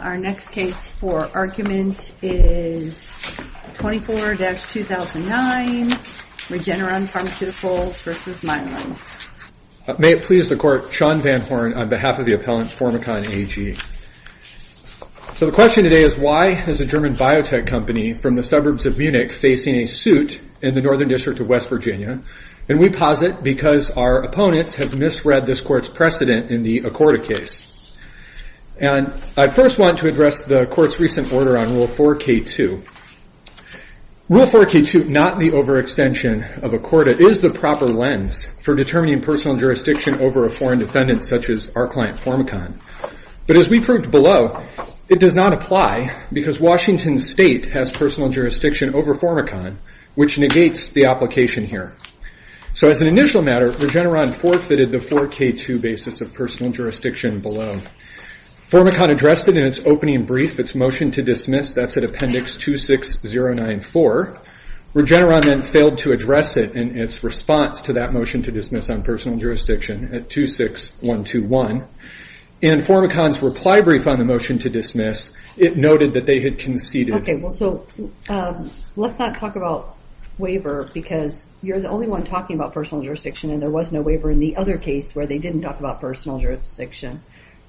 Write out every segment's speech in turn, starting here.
Our next case for argument is 24-2009 Regeneron Pharmaceuticals v. Mylan. May it please the Court, Sean Van Horn on behalf of the appellant Formicon AG. So the question today is why is a German biotech company from the suburbs of Munich facing a suit in the Northern District of West Virginia, and we posit because our opponents have misread this court's precedent in the Accorda case. And I first want to address the court's recent order on Rule 4K2. Rule 4K2, not the overextension of Accorda, is the proper lens for determining personal jurisdiction over a foreign defendant such as our client Formicon. But as we proved below, it does not apply because Washington State has personal jurisdiction over Formicon, which negates the application here. So as an initial matter, Regeneron forfeited the 4K2 basis of personal jurisdiction below. Formicon addressed it in its opening brief, its motion to dismiss. That's at Appendix 26094. Regeneron then failed to address it in its response to that motion to dismiss on personal jurisdiction at 26121. In Formicon's reply brief on the motion to dismiss, it noted that they had conceded. Okay, well, so let's not talk about waiver because you're the only one talking about personal jurisdiction, and there was no waiver in the other case where they didn't talk about personal jurisdiction,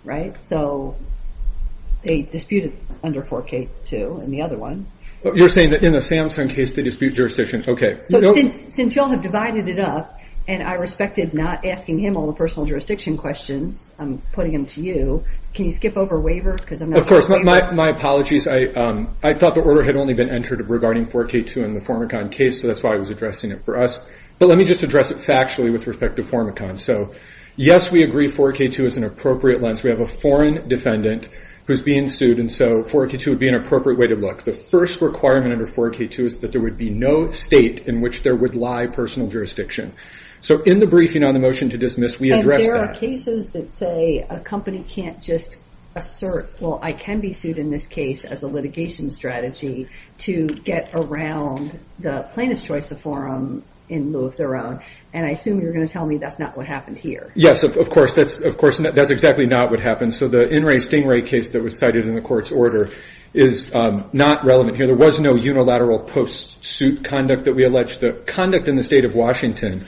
right? So they disputed under 4K2 in the other one. You're saying that in the Samson case they dispute jurisdiction? Okay. Since you all have divided it up, and I respected not asking him all the personal jurisdiction questions, I'm putting them to you, can you skip over waiver because I'm not going to waiver? Of course. My apologies. I thought the order had only been entered regarding 4K2 in the Formicon case, so that's why I was addressing it for us. But let me just address it factually with respect to Formicon. So, yes, we agree 4K2 is an appropriate lens. We have a foreign defendant who's being sued, and so 4K2 would be an appropriate way to look. The first requirement under 4K2 is that there would be no state in which there would lie personal jurisdiction. So in the briefing on the motion to dismiss, we addressed that. There are cases that say a company can't just assert, well, I can be sued in this case as a litigation strategy to get around the plaintiff's choice of forum in lieu of their own, and I assume you're going to tell me that's not what happened here. Yes, of course. That's exactly not what happened. So the In re Stingray case that was cited in the court's order is not relevant here. There was no unilateral post-suit conduct that we alleged. The conduct in the state of Washington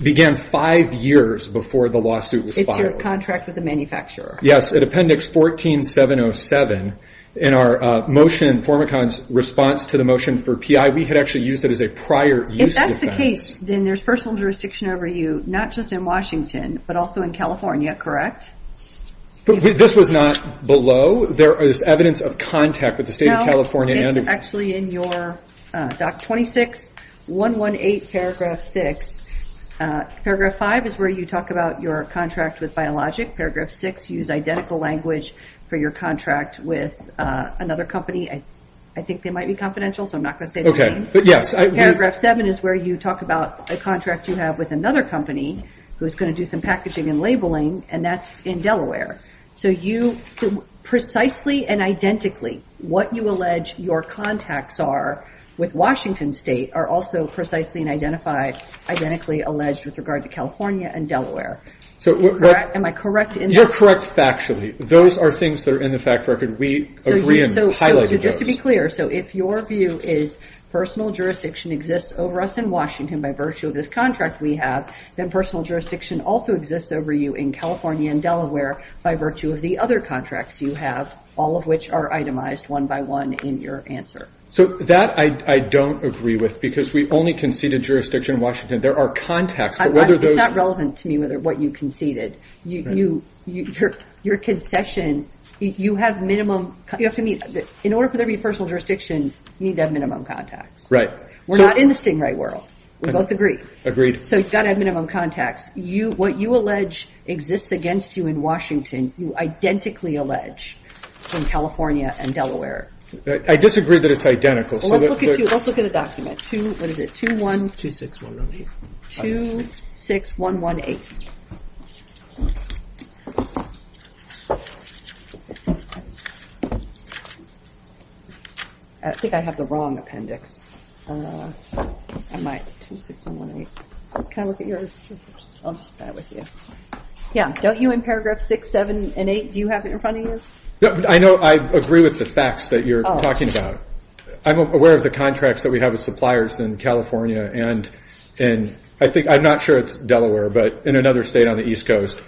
began five years before the lawsuit was filed. It's your contract with the manufacturer. Yes, at Appendix 14707 in our motion, Formicon's response to the motion for PI, we had actually used it as a prior use case. If that's the case, then there's personal jurisdiction over you, not just in Washington, but also in California, correct? This was not below. There is evidence of contact with the state of California. It's actually in your 26118 paragraph 6. Paragraph 5 is where you talk about your contract with Biologic. Paragraph 6, use identical language for your contract with another company. I think they might be confidential, so I'm not going to say the name. Paragraph 7 is where you talk about a contract you have with another company who's going to do some packaging and labeling, and that's in Delaware. Precisely and identically, what you allege your contacts are with Washington State are also precisely and identically alleged with regard to California and Delaware. Am I correct in that? You're correct factually. Those are things that are in the fact record. We agree in highlighting those. Just to be clear, so if your view is personal jurisdiction exists over us in Washington by virtue of this contract we have, then personal jurisdiction also exists over you in California and Delaware by virtue of the other contracts you have, all of which are itemized one by one in your answer. That I don't agree with because we only conceded jurisdiction in Washington. There are contacts, but whether those— It's not relevant to me what you conceded. Your concession, you have minimum—in order for there to be personal jurisdiction, you need to have minimum contacts. Right. We're not in the Stingray world. We both agree. Agreed. So you've got to have minimum contacts. What you allege exists against you in Washington, you identically allege in California and Delaware. I disagree that it's identical. Let's look at the document. What is it? 26118. 26118. I think I have the wrong appendix. I might—26118. Can I look at yours? I'll just start with you. Yeah, don't you in paragraph 6, 7, and 8, do you have it in front of you? I agree with the facts that you're talking about. I'm aware of the contracts that we have with suppliers in California and—I'm not sure it's Delaware, but in another state on the East Coast.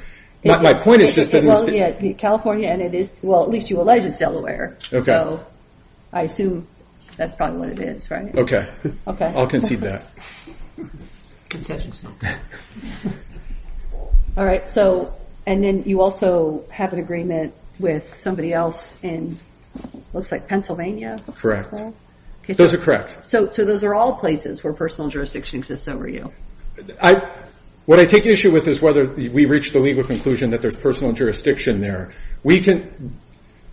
My point is just that— It won't be in California, and it is—well, at least you allege it's Delaware. Okay. I assume that's probably what it is, right? Okay. Okay. I'll concede that. All right, so—and then you also have an agreement with somebody else in—looks like Pennsylvania. Correct. Those are correct. So those are all places where personal jurisdiction exists over you. What I take issue with is whether we reach the legal conclusion that there's personal jurisdiction there.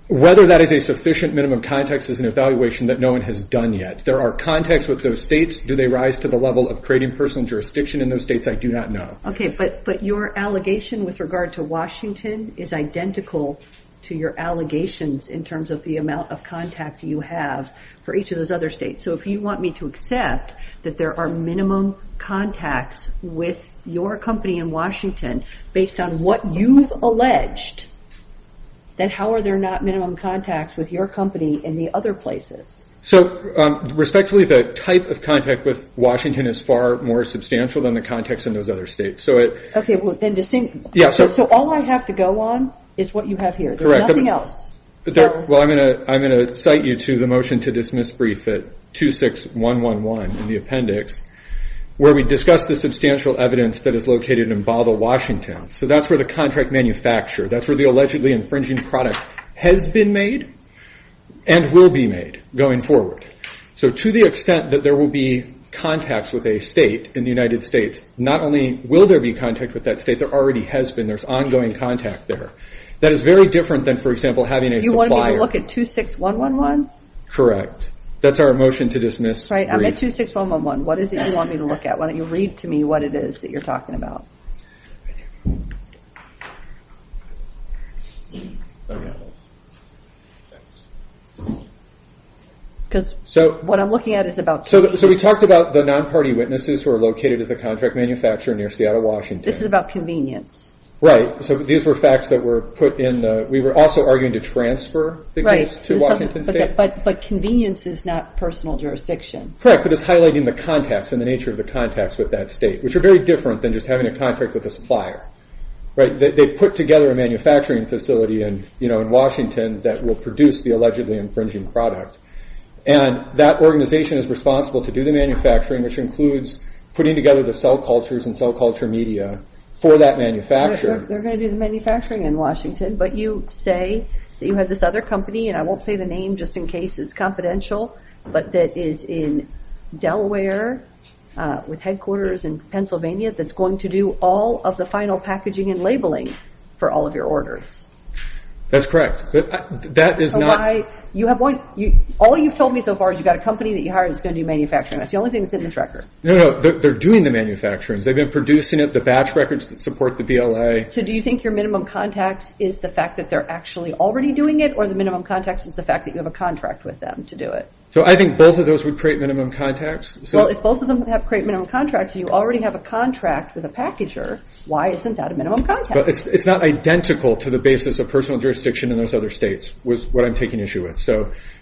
Whether that is a sufficient minimum context as an evaluation that no one has done yet. There are contexts with those states. Do they rise to the level of creating personal jurisdiction in those states? I do not know. Okay, but your allegation with regard to Washington is identical to your allegations in terms of the amount of contact you have for each of those other states. So if you want me to accept that there are minimum contacts with your company in Washington based on what you've alleged, then how are there not minimum contacts with your company in the other places? So, respectfully, the type of contact with Washington is far more substantial than the context in those other states. Okay, well, then distinct—so all I have to go on is what you have here. Correct. There's nothing else. Well, I'm going to cite you to the motion to dismiss brief at 26111 in the appendix, where we discuss the substantial evidence that is located in Bottle, Washington. So that's where the contract manufacturer, that's where the allegedly infringing product has been made and will be made going forward. So to the extent that there will be contacts with a state in the United States, not only will there be contact with that state, there already has been. There's ongoing contact there. That is very different than, for example, having a supplier. You want me to look at 26111? Correct. That's our motion to dismiss brief. I'm at 26111. What is it you want me to look at? Why don't you read to me what it is that you're talking about? Because what I'm looking at is about— So we talked about the non-party witnesses who are located at the contract manufacturer near Seattle, Washington. This is about convenience. Right. So these were facts that were put in the—we were also arguing to transfer the case to Washington State. But convenience is not personal jurisdiction. Correct, but it's highlighting the contacts and the nature of the contacts with that state, which are very different than just having a contract with a supplier. They put together a manufacturing facility in Washington that will produce the allegedly infringing product, and that organization is responsible to do the manufacturing, which includes putting together the cell cultures and cell culture media for that manufacturer. They're going to do the manufacturing in Washington, but you say that you have this other company, and I won't say the name just in case it's confidential, but that is in Delaware with headquarters in Pennsylvania that's going to do all of the final packaging and labeling for all of your orders. That's correct, but that is not— So why—all you've told me so far is you've got a company that you hired that's going to do manufacturing. That's the only thing that's in this record. No, no, they're doing the manufacturing. They've been producing it, the batch records that support the BLA. So do you think your minimum contacts is the fact that they're actually already doing it, or the minimum contacts is the fact that you have a contract with them to do it? I think both of those would create minimum contacts. Well, if both of them would create minimum contracts, and you already have a contract with a packager, why isn't that a minimum contact? It's not identical to the basis of personal jurisdiction in those other states, which is what I'm taking issue with.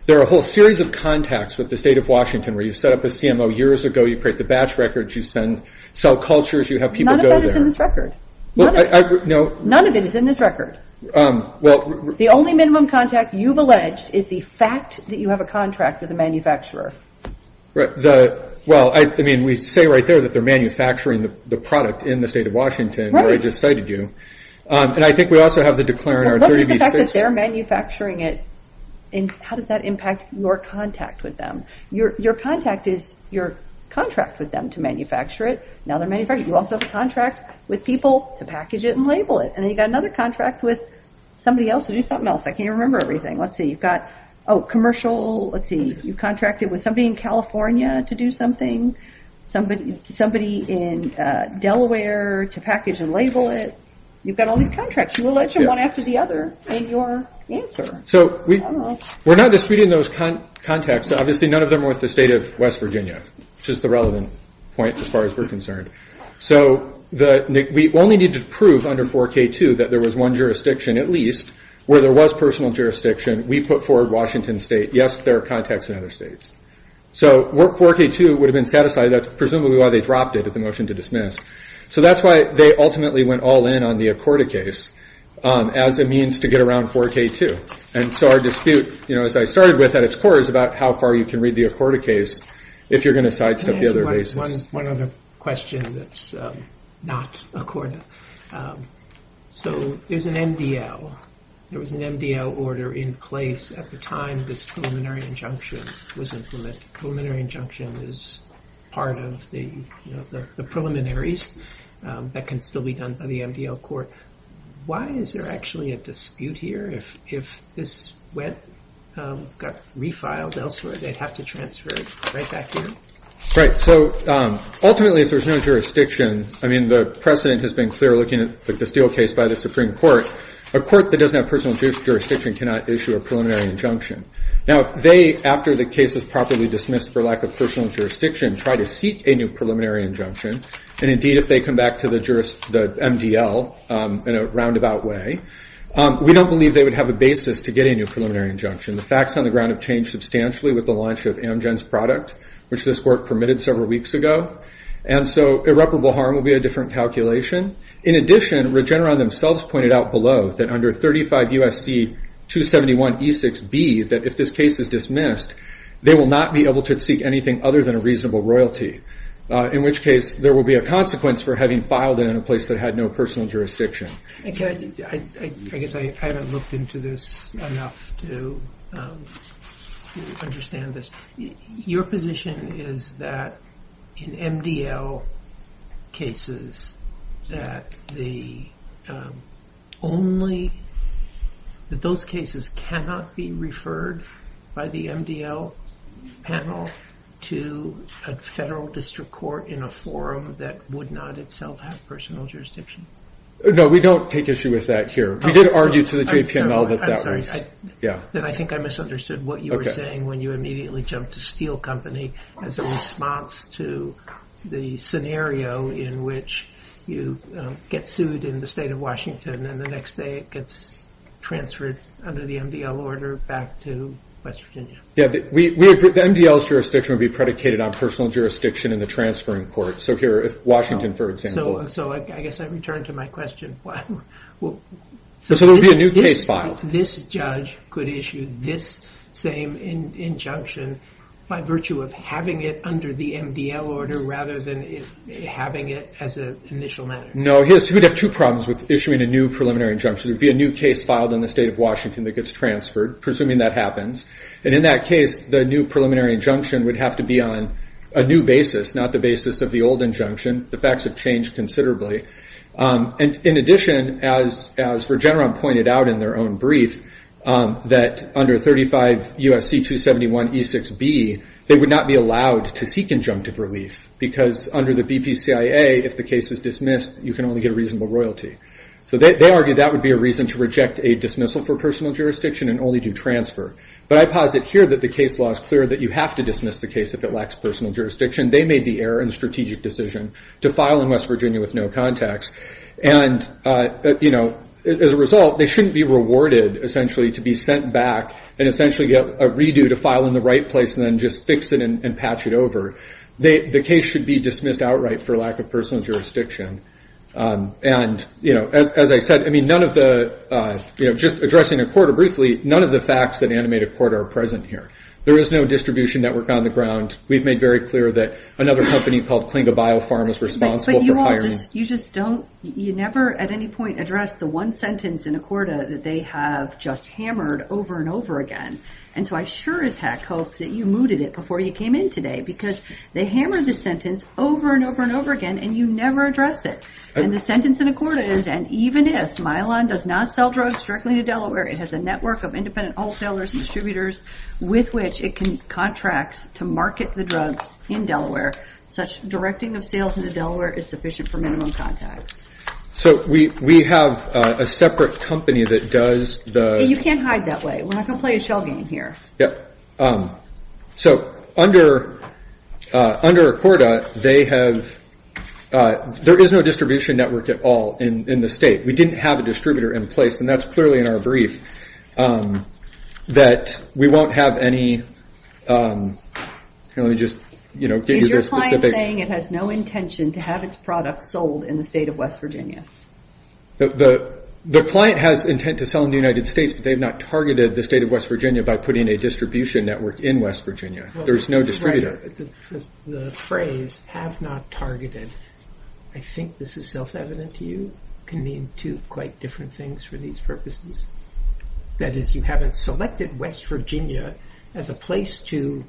There are a whole series of contacts with the state of Washington where you set up a CMO years ago, you create the batch records, you send cell cultures, you have people go there. None of that is in this record. None of it is in this record. The only minimum contact you've alleged is the fact that you have a contract with a manufacturer. Well, I mean, we say right there that they're manufacturing the product in the state of Washington, where I just cited you. And I think we also have the declarant R30B6. What is the fact that they're manufacturing it, and how does that impact your contact with them? Your contact is your contract with them to manufacture it. Now they're manufacturing it. You also have a contract with people to package it and label it. And then you've got another contract with somebody else to do something else. I can't even remember everything. Let's see. You've got, oh, commercial. Let's see. You've contracted with somebody in California to do something, somebody in Delaware to package and label it. You've got all these contracts. You allege them one after the other in your answer. So we're not disputing those contacts. Obviously, none of them were with the state of West Virginia, which is the relevant point as far as we're concerned. So we only need to prove under 4K2 that there was one jurisdiction at least where there was personal jurisdiction. We put forward Washington State. Yes, there are contacts in other states. So 4K2 would have been satisfied. That's presumably why they dropped it at the motion to dismiss. So that's why they ultimately went all in on the Accorda case as a means to get around 4K2. And so our dispute, you know, as I started with at its core, is about how far you can read the Accorda case if you're going to sidestep the other bases. One other question that's not Accorda. So there's an MDL. There was an MDL order in place at the time this preliminary injunction was implemented. Preliminary injunction is part of the preliminaries that can still be done by the MDL court. Why is there actually a dispute here? If this went, got refiled elsewhere, they'd have to transfer it right back here? Right. So ultimately if there's no jurisdiction, I mean, the precedent has been clear looking at the Steele case by the Supreme Court. A court that doesn't have personal jurisdiction cannot issue a preliminary injunction. Now they, after the case is properly dismissed for lack of personal jurisdiction, try to seek a new preliminary injunction. And, indeed, if they come back to the MDL in a roundabout way, we don't believe they would have a basis to get a new preliminary injunction. The facts on the ground have changed substantially with the launch of Amgen's product, which this court permitted several weeks ago. And so irreparable harm will be a different calculation. In addition, Regeneron themselves pointed out below that under 35 U.S.C. 271E6B, that if this case is dismissed, they will not be able to seek anything other than a reasonable royalty, in which case there will be a consequence for having filed it in a place that had no personal jurisdiction. I guess I haven't looked into this enough to understand this. Your position is that in MDL cases that the only, that those cases cannot be referred by the MDL panel to a federal district court in a forum that would not itself have personal jurisdiction? No, we don't take issue with that here. We did argue to the JPNL that that was, yeah. Then I think I misunderstood what you were saying when you immediately jumped to Steel Company as a response to the scenario in which you get sued in the state of Washington and the next day it gets transferred under the MDL order back to West Virginia. Yeah, the MDL's jurisdiction would be predicated on personal jurisdiction in the transferring court. So here, if Washington, for example. So I guess I return to my question. So there will be a new case filed. But this judge could issue this same injunction by virtue of having it under the MDL order rather than having it as an initial matter. No, he would have two problems with issuing a new preliminary injunction. It would be a new case filed in the state of Washington that gets transferred, presuming that happens. And in that case, the new preliminary injunction would have to be on a new basis, not the basis of the old injunction. The facts have changed considerably. In addition, as Regeneron pointed out in their own brief, that under 35 U.S.C. 271 E6B, they would not be allowed to seek injunctive relief because under the BPCIA, if the case is dismissed, you can only get a reasonable royalty. So they argue that would be a reason to reject a dismissal for personal jurisdiction and only do transfer. But I posit here that the case law is clear that you have to dismiss the case if it lacks personal jurisdiction. They made the error in the strategic decision to file in West Virginia with no contacts. And, you know, as a result, they shouldn't be rewarded, essentially, to be sent back and essentially get a redo to file in the right place and then just fix it and patch it over. The case should be dismissed outright for lack of personal jurisdiction. And, you know, as I said, I mean, none of the, you know, just addressing a court briefly, none of the facts that animate a court are present here. There is no distribution network on the ground. We've made very clear that another company called Klinga BioPharm is responsible for hiring. But you all just don't – you never at any point address the one sentence in a corda that they have just hammered over and over again. And so I sure as heck hope that you mooted it before you came in today because they hammered the sentence over and over and over again, and you never address it. And the sentence in a corda is, and even if Mylon does not sell drugs directly to Delaware, it has a network of independent wholesalers and distributors with which it contracts to market the drugs in Delaware. Such directing of sales into Delaware is sufficient for minimum contacts. So we have a separate company that does the – You can't hide that way. We're not going to play a shell game here. Yep. So under a corda, they have – there is no distribution network at all in the state. We didn't have a distributor in place, and that's clearly in our brief, that we won't have any – let me just give you the specific – Is your client saying it has no intention to have its products sold in the state of West Virginia? The client has intent to sell in the United States, but they have not targeted the state of West Virginia by putting a distribution network in West Virginia. There's no distributor. The phrase, have not targeted, I think this is self-evident to you, can mean two quite different things for these purposes. That is, you haven't selected West Virginia as a place to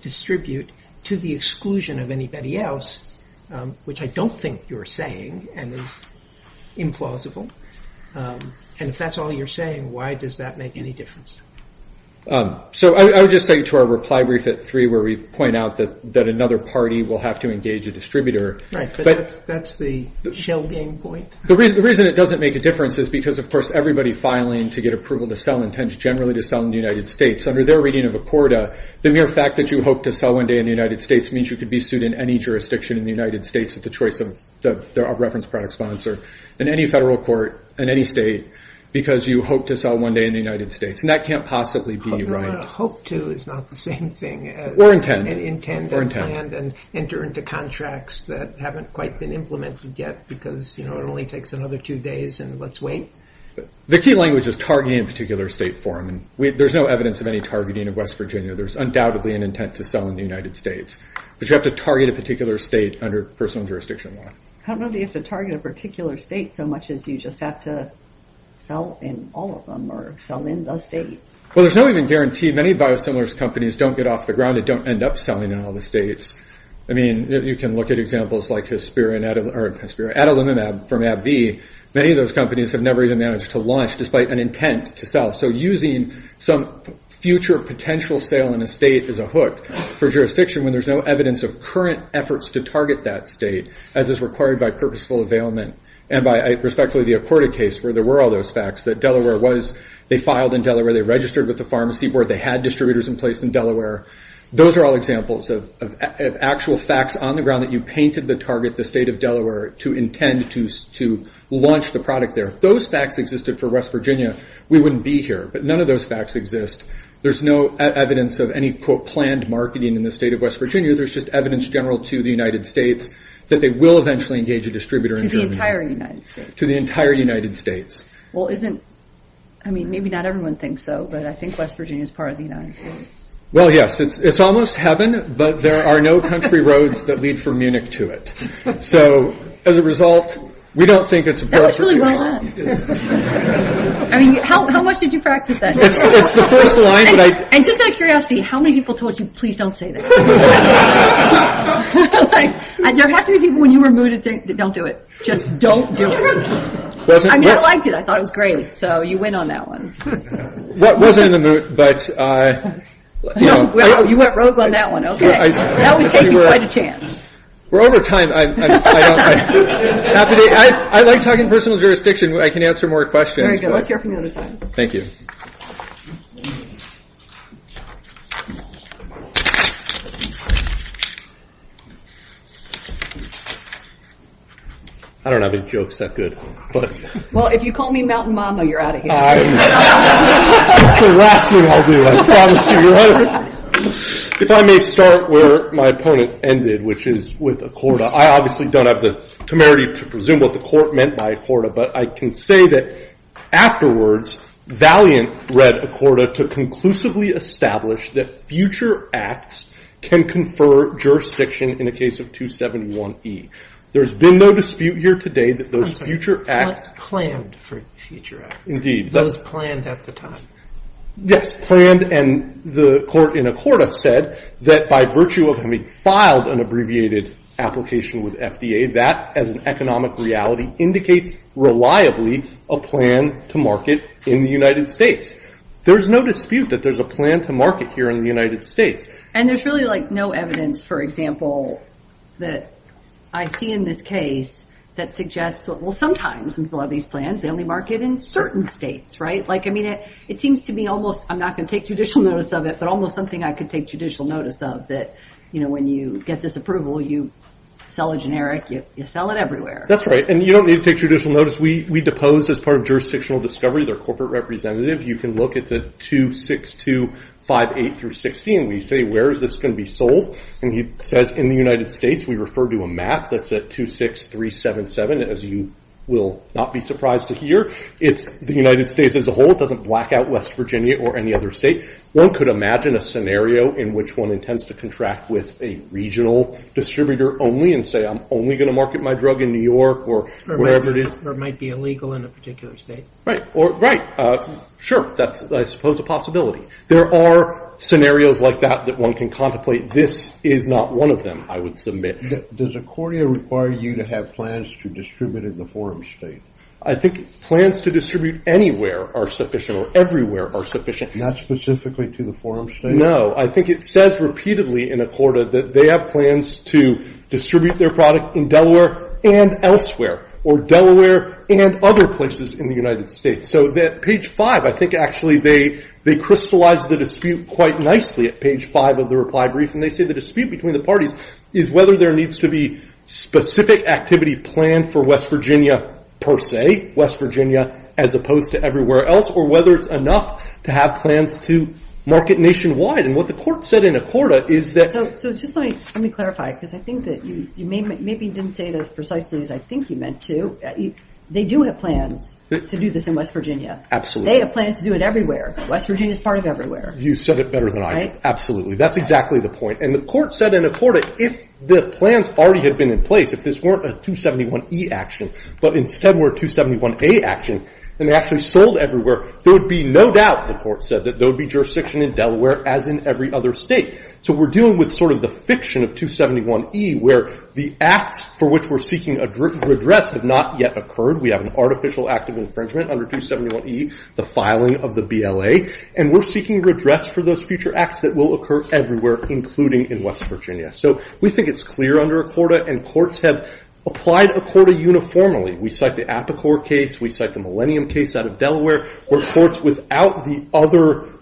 distribute to the exclusion of anybody else, which I don't think you're saying and is implausible. And if that's all you're saying, why does that make any difference? So I would just say to our reply brief at three where we point out that another party will have to engage a distributor. Right, but that's the shell game point. The reason it doesn't make a difference is because, of course, everybody filing to get approval to sell intends generally to sell in the United States. Under their reading of ACORDA, the mere fact that you hope to sell one day in the United States means you could be sued in any jurisdiction in the United States at the choice of reference product sponsor in any federal court in any state because you hope to sell one day in the United States. And that can't possibly be right. Hope to is not the same thing as – Or intend. And intend and plan and enter into contracts that haven't quite been implemented yet because it only takes another two days and let's wait. The key language is targeting a particular state for them. There's no evidence of any targeting of West Virginia. There's undoubtedly an intent to sell in the United States. But you have to target a particular state under personal jurisdiction law. I don't know that you have to target a particular state so much as you just have to sell in all of them or sell in the state. Well, there's no even guarantee. Many biosimilars companies don't get off the ground and don't end up selling in all the states. I mean, you can look at examples like Adalimumab from AbbVie. Many of those companies have never even managed to launch despite an intent to sell. So using some future potential sale in a state is a hook for jurisdiction when there's no evidence of current efforts to target that state as is required by purposeful availment and by, respectfully, the ACORDA case where there were all those facts that Delaware was – they filed in Delaware. They registered with the pharmacy board. They had distributors in place in Delaware. Those are all examples of actual facts on the ground that you painted the target, the state of Delaware, to intend to launch the product there. If those facts existed for West Virginia, we wouldn't be here. But none of those facts exist. There's no evidence of any, quote, planned marketing in the state of West Virginia. There's just evidence general to the United States that they will eventually engage a distributor in Germany. To the entire United States. To the entire United States. Well, isn't – I mean, maybe not everyone thinks so, but I think West Virginia is part of the United States. Well, yes, it's almost heaven, but there are no country roads that lead from Munich to it. So as a result, we don't think it's a perfect – That was really well said. I mean, how much did you practice that? It's the first line that I – And just out of curiosity, how many people told you, please don't say that? There have to be people when you were mooted that don't do it. Just don't do it. I mean, I liked it. I thought it was great. So you win on that one. Well, it wasn't in the moot, but – No, you went rogue on that one, okay? That was taking quite a chance. We're over time. I like talking personal jurisdiction. I can answer more questions. Very good. Let's hear from the other side. Thank you. I don't have any jokes that good. Well, if you call me Mountain Mama, you're out of here. That's the last thing I'll do, I promise you. If I may start where my opponent ended, which is with Accorda. I obviously don't have the temerity to presume what the court meant by Accorda, but I can say that afterwards Valiant read Accorda to conclusively establish that future acts can confer jurisdiction in a case of 271E. There's been no dispute here today that those future acts – Planned for future acts. Indeed. Those planned at the time. Yes, planned. And the court in Accorda said that by virtue of having filed an abbreviated application with FDA, that as an economic reality indicates reliably a plan to market in the United States. There's no dispute that there's a plan to market here in the United States. And there's really, like, no evidence, for example, that I see in this case that suggests – well, sometimes when people have these plans, they only market in certain states, right? Like, I mean, it seems to me almost – I'm not going to take judicial notice of it, but almost something I could take judicial notice of, that, you know, when you get this approval, you sell a generic, you sell it everywhere. That's right. And you don't need to take judicial notice. We depose, as part of jurisdictional discovery, their corporate representative. You can look. It's a 26258 through 16. We say, where is this going to be sold? And he says, in the United States. We refer to a map that's at 26377, as you will not be surprised to hear. It's the United States as a whole. It doesn't black out West Virginia or any other state. One could imagine a scenario in which one intends to contract with a regional distributor only and say, I'm only going to market my drug in New York or wherever it is. Or it might be illegal in a particular state. Right. Sure. That's, I suppose, a possibility. There are scenarios like that that one can contemplate. This is not one of them, I would submit. Does Accordia require you to have plans to distribute in the forum state? I think plans to distribute anywhere are sufficient or everywhere are sufficient. Not specifically to the forum state? I think it says repeatedly in Accordia that they have plans to distribute their product in Delaware and elsewhere. Or Delaware and other places in the United States. So that page five, I think actually they crystallized the dispute quite nicely at page five of the reply brief. And they say the dispute between the parties is whether there needs to be specific activity planned for West Virginia per se, West Virginia as opposed to everywhere else, or whether it's enough to have plans to market nationwide. And what the court said in Accordia is that... So just let me clarify, because I think that you maybe didn't say it as precisely as I think you meant to. They do have plans to do this in West Virginia. Absolutely. They have plans to do it everywhere. West Virginia is part of everywhere. You said it better than I did. Right? Absolutely. That's exactly the point. And the court said in Accordia, if the plans already had been in place, if this weren't a 271E action, but instead were a 271A action, and they actually sold everywhere, there would be no doubt, the court said, that there would be jurisdiction in Delaware as in every other state. So we're dealing with sort of the fiction of 271E, where the acts for which we're seeking redress have not yet occurred. We have an artificial act of infringement under 271E, the filing of the BLA. And we're seeking redress for those future acts that will occur everywhere, including in West Virginia. So we think it's clear under Accordia, and courts have applied Accordia uniformly. We cite the Apicor case. We cite the Millennium case out of Delaware, where courts without the other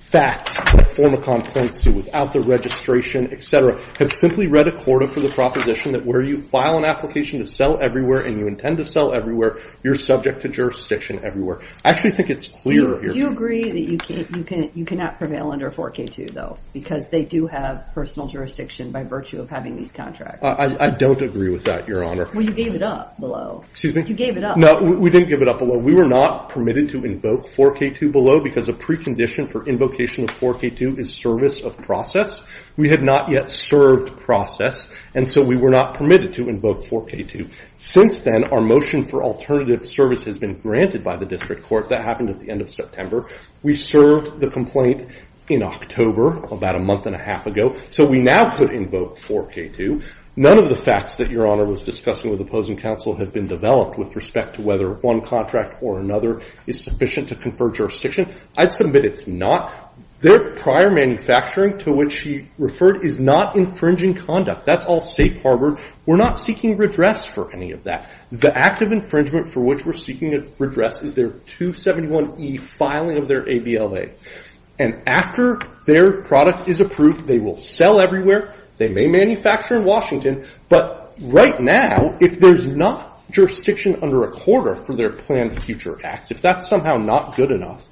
facts that Formicom points to, without the registration, et cetera, have simply read Accordia for the proposition that where you file an application to sell everywhere and you intend to sell everywhere, you're subject to jurisdiction everywhere. I actually think it's clear here. Do you agree that you cannot prevail under 4K2, though, because they do have personal jurisdiction by virtue of having these contracts? I don't agree with that, Your Honor. Well, you gave it up below. Excuse me? You gave it up. No, we didn't give it up below. We were not permitted to invoke 4K2 below because a precondition for invocation of 4K2 is service of process. We had not yet served process, and so we were not permitted to invoke 4K2. Since then, our motion for alternative service has been granted by the district court. That happened at the end of September. We served the complaint in October, about a month and a half ago, so we now could invoke 4K2. None of the facts that Your Honor was discussing with opposing counsel have been developed with respect to whether one contract or another is sufficient to confer jurisdiction. I'd submit it's not. Their prior manufacturing, to which he referred, is not infringing conduct. That's all safe harbored. We're not seeking redress for any of that. The act of infringement for which we're seeking redress is their 271E filing of their ABLA. After their product is approved, they will sell everywhere. They may manufacture in Washington, but right now, if there's not jurisdiction under a quarter for their planned future acts, if that's somehow not good enough,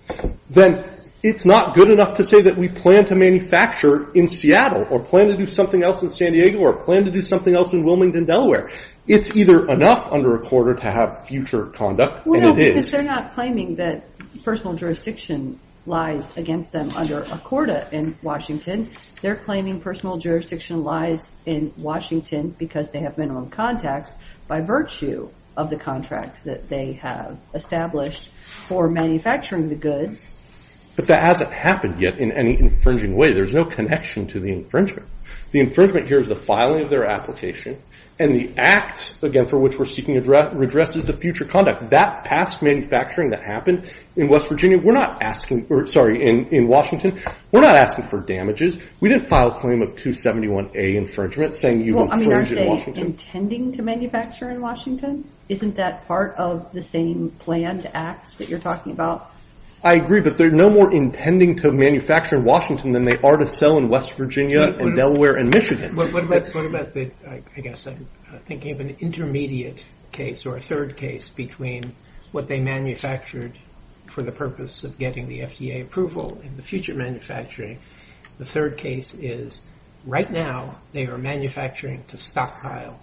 then it's not good enough to say that we plan to manufacture in Seattle or plan to do something else in San Diego or plan to do something else in Wilmington, Delaware. It's either enough under a quarter to have future conduct, and it is. Well, because they're not claiming that personal jurisdiction lies against them under a quarter in Washington. They're claiming personal jurisdiction lies in Washington because they have minimum contacts by virtue of the contract that they have established for manufacturing the goods. But that hasn't happened yet in any infringing way. There's no connection to the infringement. The infringement here is the filing of their application, and the act, again, for which we're seeking redress is the future conduct. That past manufacturing that happened in Washington, we're not asking for damages. We didn't file a claim of 271A infringement saying you've infringed in Washington. Aren't they intending to manufacture in Washington? Isn't that part of the same planned acts that you're talking about? I agree, but they're no more intending to manufacture in Washington than they are to sell in West Virginia and Delaware and Michigan. What about, I guess I'm thinking of an intermediate case or a third case between what they manufactured for the purpose of getting the FDA approval and the future manufacturing. The third case is right now they are manufacturing to stockpile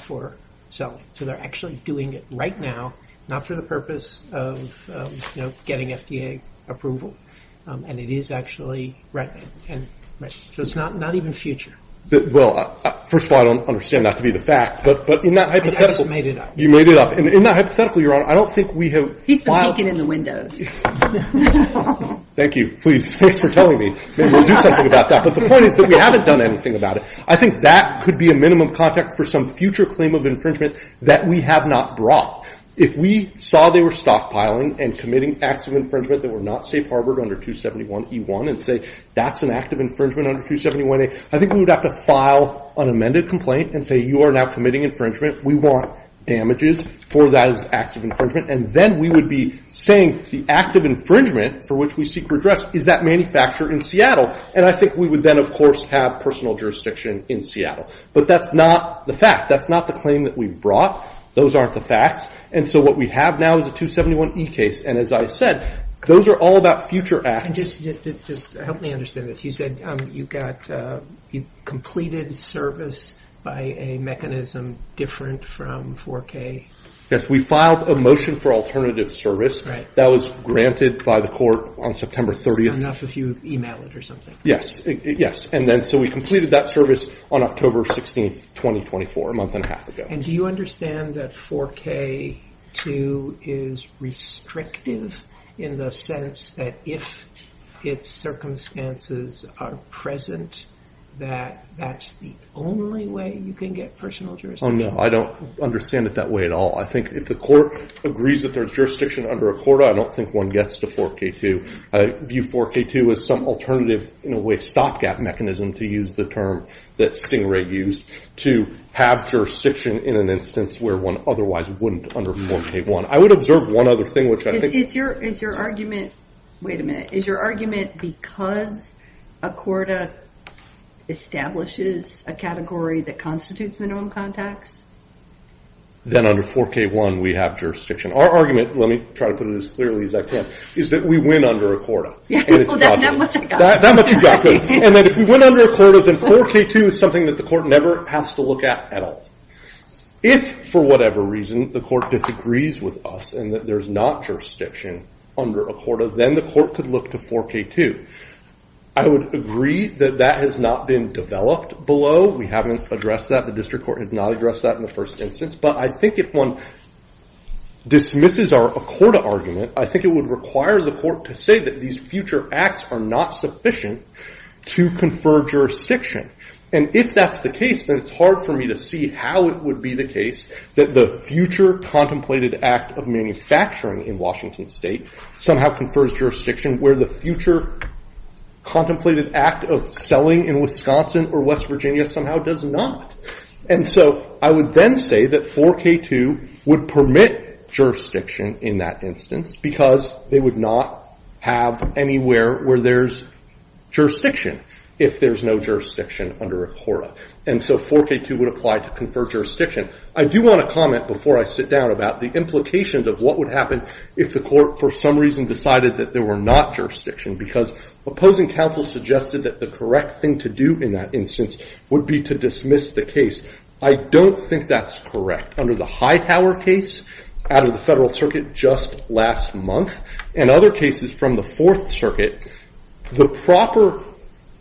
for selling. So they're actually doing it right now, not for the purpose of getting FDA approval. And it is actually right now. So it's not even future. Well, first of all, I don't understand that to be the fact, but in that hypothetical. I just made it up. You made it up. In that hypothetical, Your Honor, I don't think we have filed. He's been peeking in the windows. Thank you. Please, thanks for telling me. Maybe we'll do something about that. But the point is that we haven't done anything about it. I think that could be a minimum contact for some future claim of infringement that we have not brought. If we saw they were stockpiling and committing acts of infringement that were not safe harbored under 271E1 and say that's an act of infringement under 271A, I think we would have to file an amended complaint and say you are now committing infringement. We want damages for those acts of infringement. And then we would be saying the act of infringement for which we seek redress is that manufactured in Seattle. And I think we would then, of course, have personal jurisdiction in Seattle. But that's not the fact. That's not the claim that we've brought. Those aren't the facts. And so what we have now is a 271E case. And as I said, those are all about future acts. Just help me understand this. You said you got completed service by a mechanism different from 4K. Yes, we filed a motion for alternative service. That was granted by the court on September 30th. Yes, yes. And then so we completed that service on October 16th, 2024, a month and a half ago. And do you understand that 4K2 is restrictive in the sense that if its circumstances are present, that that's the only way you can get personal jurisdiction? Oh, no, I don't understand it that way at all. I think if the court agrees that there's jurisdiction under a quota, I don't think one gets to 4K2. I view 4K2 as some alternative, in a way, stopgap mechanism, to use the term that Stingray used, to have jurisdiction in an instance where one otherwise wouldn't under 4K1. I would observe one other thing, which I think— Wait a minute. Is your argument because a quota establishes a category that constitutes minimum contacts? Then under 4K1, we have jurisdiction. Our argument—let me try to put it as clearly as I can—is that we win under a quota. That much I got. That much you got, good. And then if we win under a quota, then 4K2 is something that the court never has to look at at all. If, for whatever reason, the court disagrees with us and that there's not jurisdiction under a quota, then the court could look to 4K2. I would agree that that has not been developed below. We haven't addressed that. The district court has not addressed that in the first instance. But I think if one dismisses our quota argument, I think it would require the court to say that these future acts are not sufficient to confer jurisdiction. And if that's the case, then it's hard for me to see how it would be the case that the future contemplated act of manufacturing in Washington State somehow confers jurisdiction where the future contemplated act of selling in Wisconsin or West Virginia somehow does not. And so I would then say that 4K2 would permit jurisdiction in that instance because they would not have anywhere where there's jurisdiction if there's no jurisdiction under a quota. And so 4K2 would apply to confer jurisdiction. I do want to comment before I sit down about the implications of what would happen if the court for some reason decided that there were not jurisdiction, because opposing counsel suggested that the correct thing to do in that instance would be to dismiss the case. I don't think that's correct. Under the Hightower case out of the Federal Circuit just last month and other cases from the Fourth Circuit, the proper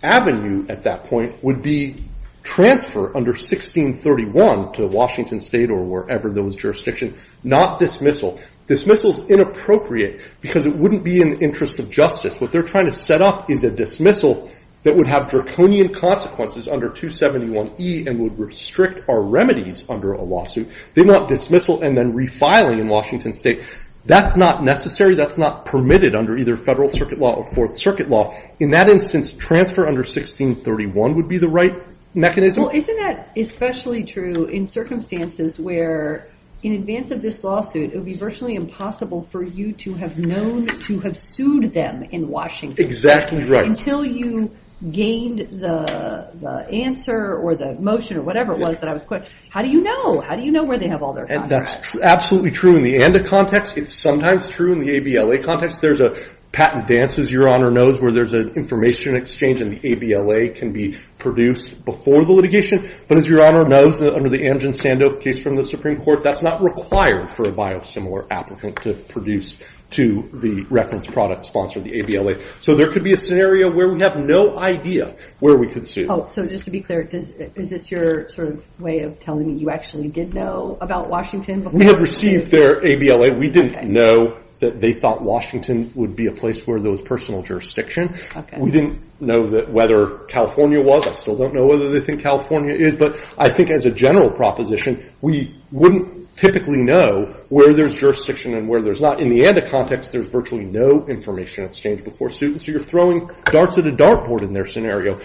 avenue at that point would be transfer under 1631 to Washington State or wherever there was jurisdiction, not dismissal. Dismissal is inappropriate because it wouldn't be in the interest of justice. What they're trying to set up is a dismissal that would have draconian consequences under 271E and would restrict our remedies under a lawsuit. They're not dismissal and then refiling in Washington State. That's not necessary. That's not permitted under either Federal Circuit law or Fourth Circuit law. In that instance, transfer under 1631 would be the right mechanism. Isn't that especially true in circumstances where in advance of this lawsuit, it would be virtually impossible for you to have known to have sued them in Washington State? Exactly right. Until you gained the answer or the motion or whatever it was that I was questioning, how do you know? How do you know where they have all their contracts? That's absolutely true in the ANDA context. It's sometimes true in the ABLA context. There's a patent dance, as Your Honor knows, where there's an information exchange and the ABLA can be produced before the litigation. But as Your Honor knows, under the Amgen-Sandoe case from the Supreme Court, that's not required for a biosimilar applicant to produce to the reference product sponsor, the ABLA. So there could be a scenario where we have no idea where we could sue. Oh, so just to be clear, is this your sort of way of telling me you actually did know about Washington before? We had received their ABLA. We didn't know that they thought Washington would be a place where there was personal jurisdiction. We didn't know whether California was. I still don't know whether they think California is. But I think as a general proposition, we wouldn't typically know where there's jurisdiction and where there's not. In the ANDA context, there's virtually no information exchange before suing. So you're throwing darts at a dartboard in their scenario.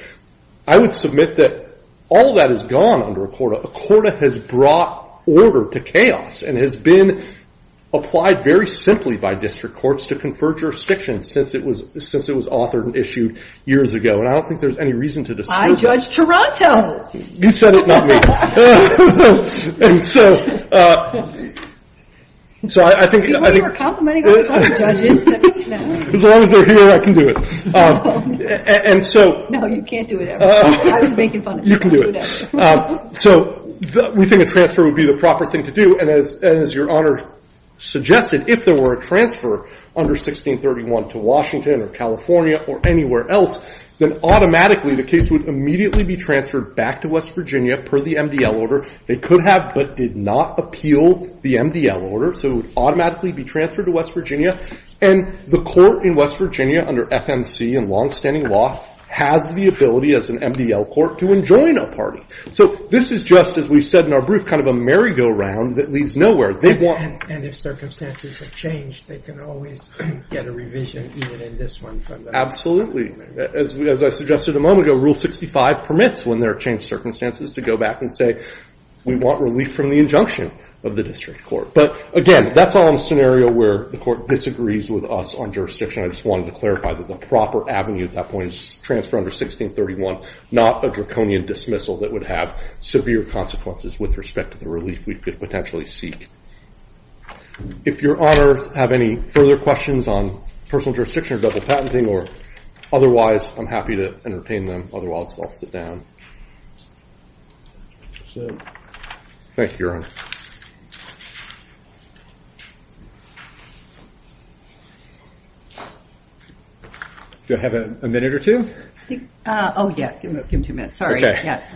I would submit that all of that is gone under ACORDA. ACORDA has brought order to chaos and has been applied very simply by district courts to confer jurisdiction since it was authored and issued years ago. And I don't think there's any reason to dispute that. I judge Toronto. You said it, not me. And so I think as long as they're here, I can do it. No, you can't do it. I was making fun of you. You can do it. So we think a transfer would be the proper thing to do. And as Your Honor suggested, if there were a transfer under 1631 to Washington or California or anywhere else, then automatically the case would immediately be transferred back to West Virginia per the MDL order. They could have but did not appeal the MDL order. So it would automatically be transferred to West Virginia. And the court in West Virginia under FMC and longstanding law has the ability as an MDL court to enjoin a party. So this is just, as we've said in our brief, kind of a merry-go-round that leads nowhere. And if circumstances have changed, they can always get a revision even in this one. Absolutely. As I suggested a moment ago, Rule 65 permits when there are changed circumstances to go back and say, we want relief from the injunction of the district court. But again, that's all in a scenario where the court disagrees with us on jurisdiction. I just wanted to clarify that the proper avenue at that point is transfer under 1631, not a draconian dismissal that would have severe consequences with respect to the relief we could potentially seek. If Your Honors have any further questions on personal jurisdiction or double patenting or otherwise, I'm happy to entertain them. Otherwise, I'll sit down. Thank you, Your Honor. Do I have a minute or two? Oh, yeah. Give him two minutes. Sorry. Yes.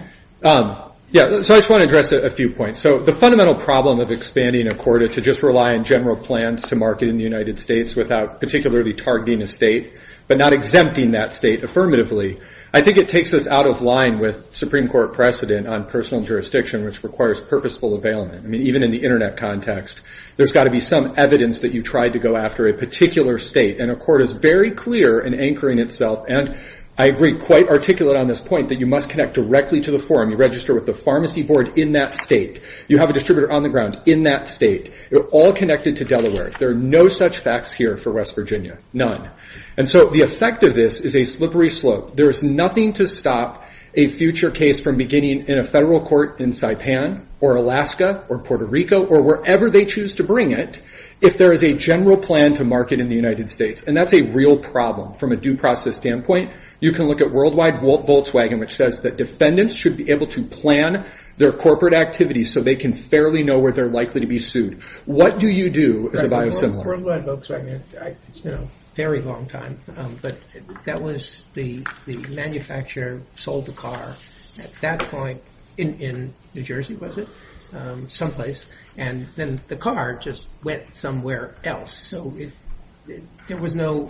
Yeah. So I just want to address a few points. So the fundamental problem of expanding a court to just rely on general plans to market in the United States without particularly targeting a state but not exempting that state affirmatively, I think it takes us out of line with Supreme Court precedent on personal jurisdiction, which requires purposeful availment. I mean, even in the internet context, there's got to be some evidence that you tried to go after a particular state. And a court is very clear in anchoring itself, and I agree, quite articulate on this point, that you must connect directly to the forum. You register with the pharmacy board in that state. You have a distributor on the ground in that state. They're all connected to Delaware. There are no such facts here for West Virginia. None. And so the effect of this is a slippery slope. There is nothing to stop a future case from beginning in a federal court in Saipan or Alaska or Puerto Rico or wherever they choose to bring it if there is a general plan to market in the United States, and that's a real problem. From a due process standpoint, you can look at Worldwide Volkswagen, which says that defendants should be able to plan their corporate activities so they can fairly know where they're likely to be sued. What do you do as a biosimilar? Worldwide Volkswagen. It's been a very long time, but that was the manufacturer sold the car at that point in New Jersey, was it? Someplace. And then the car just went somewhere else. So there was no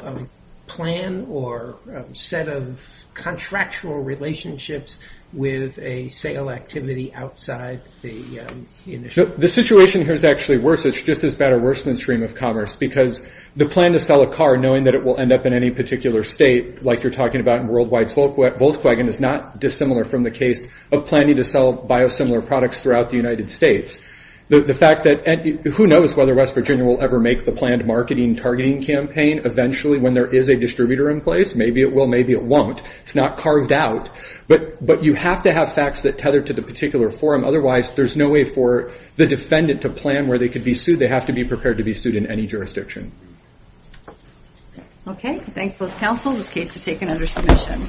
plan or set of contractual relationships with a sale activity outside the initiative. The situation here is actually worse. It's just as bad or worse than the stream of commerce, because the plan to sell a car knowing that it will end up in any particular state, like you're talking about in Worldwide Volkswagen, is not dissimilar from the case of planning to sell biosimilar products throughout the United States. Who knows whether West Virginia will ever make the planned marketing targeting campaign eventually when there is a distributor in place? Maybe it will. Maybe it won't. It's not carved out. But you have to have facts that tether to the particular forum. Otherwise, there's no way for the defendant to plan where they could be sued. They have to be prepared to be sued in any jurisdiction. Okay. Thank both counsel. This case is taken under submission.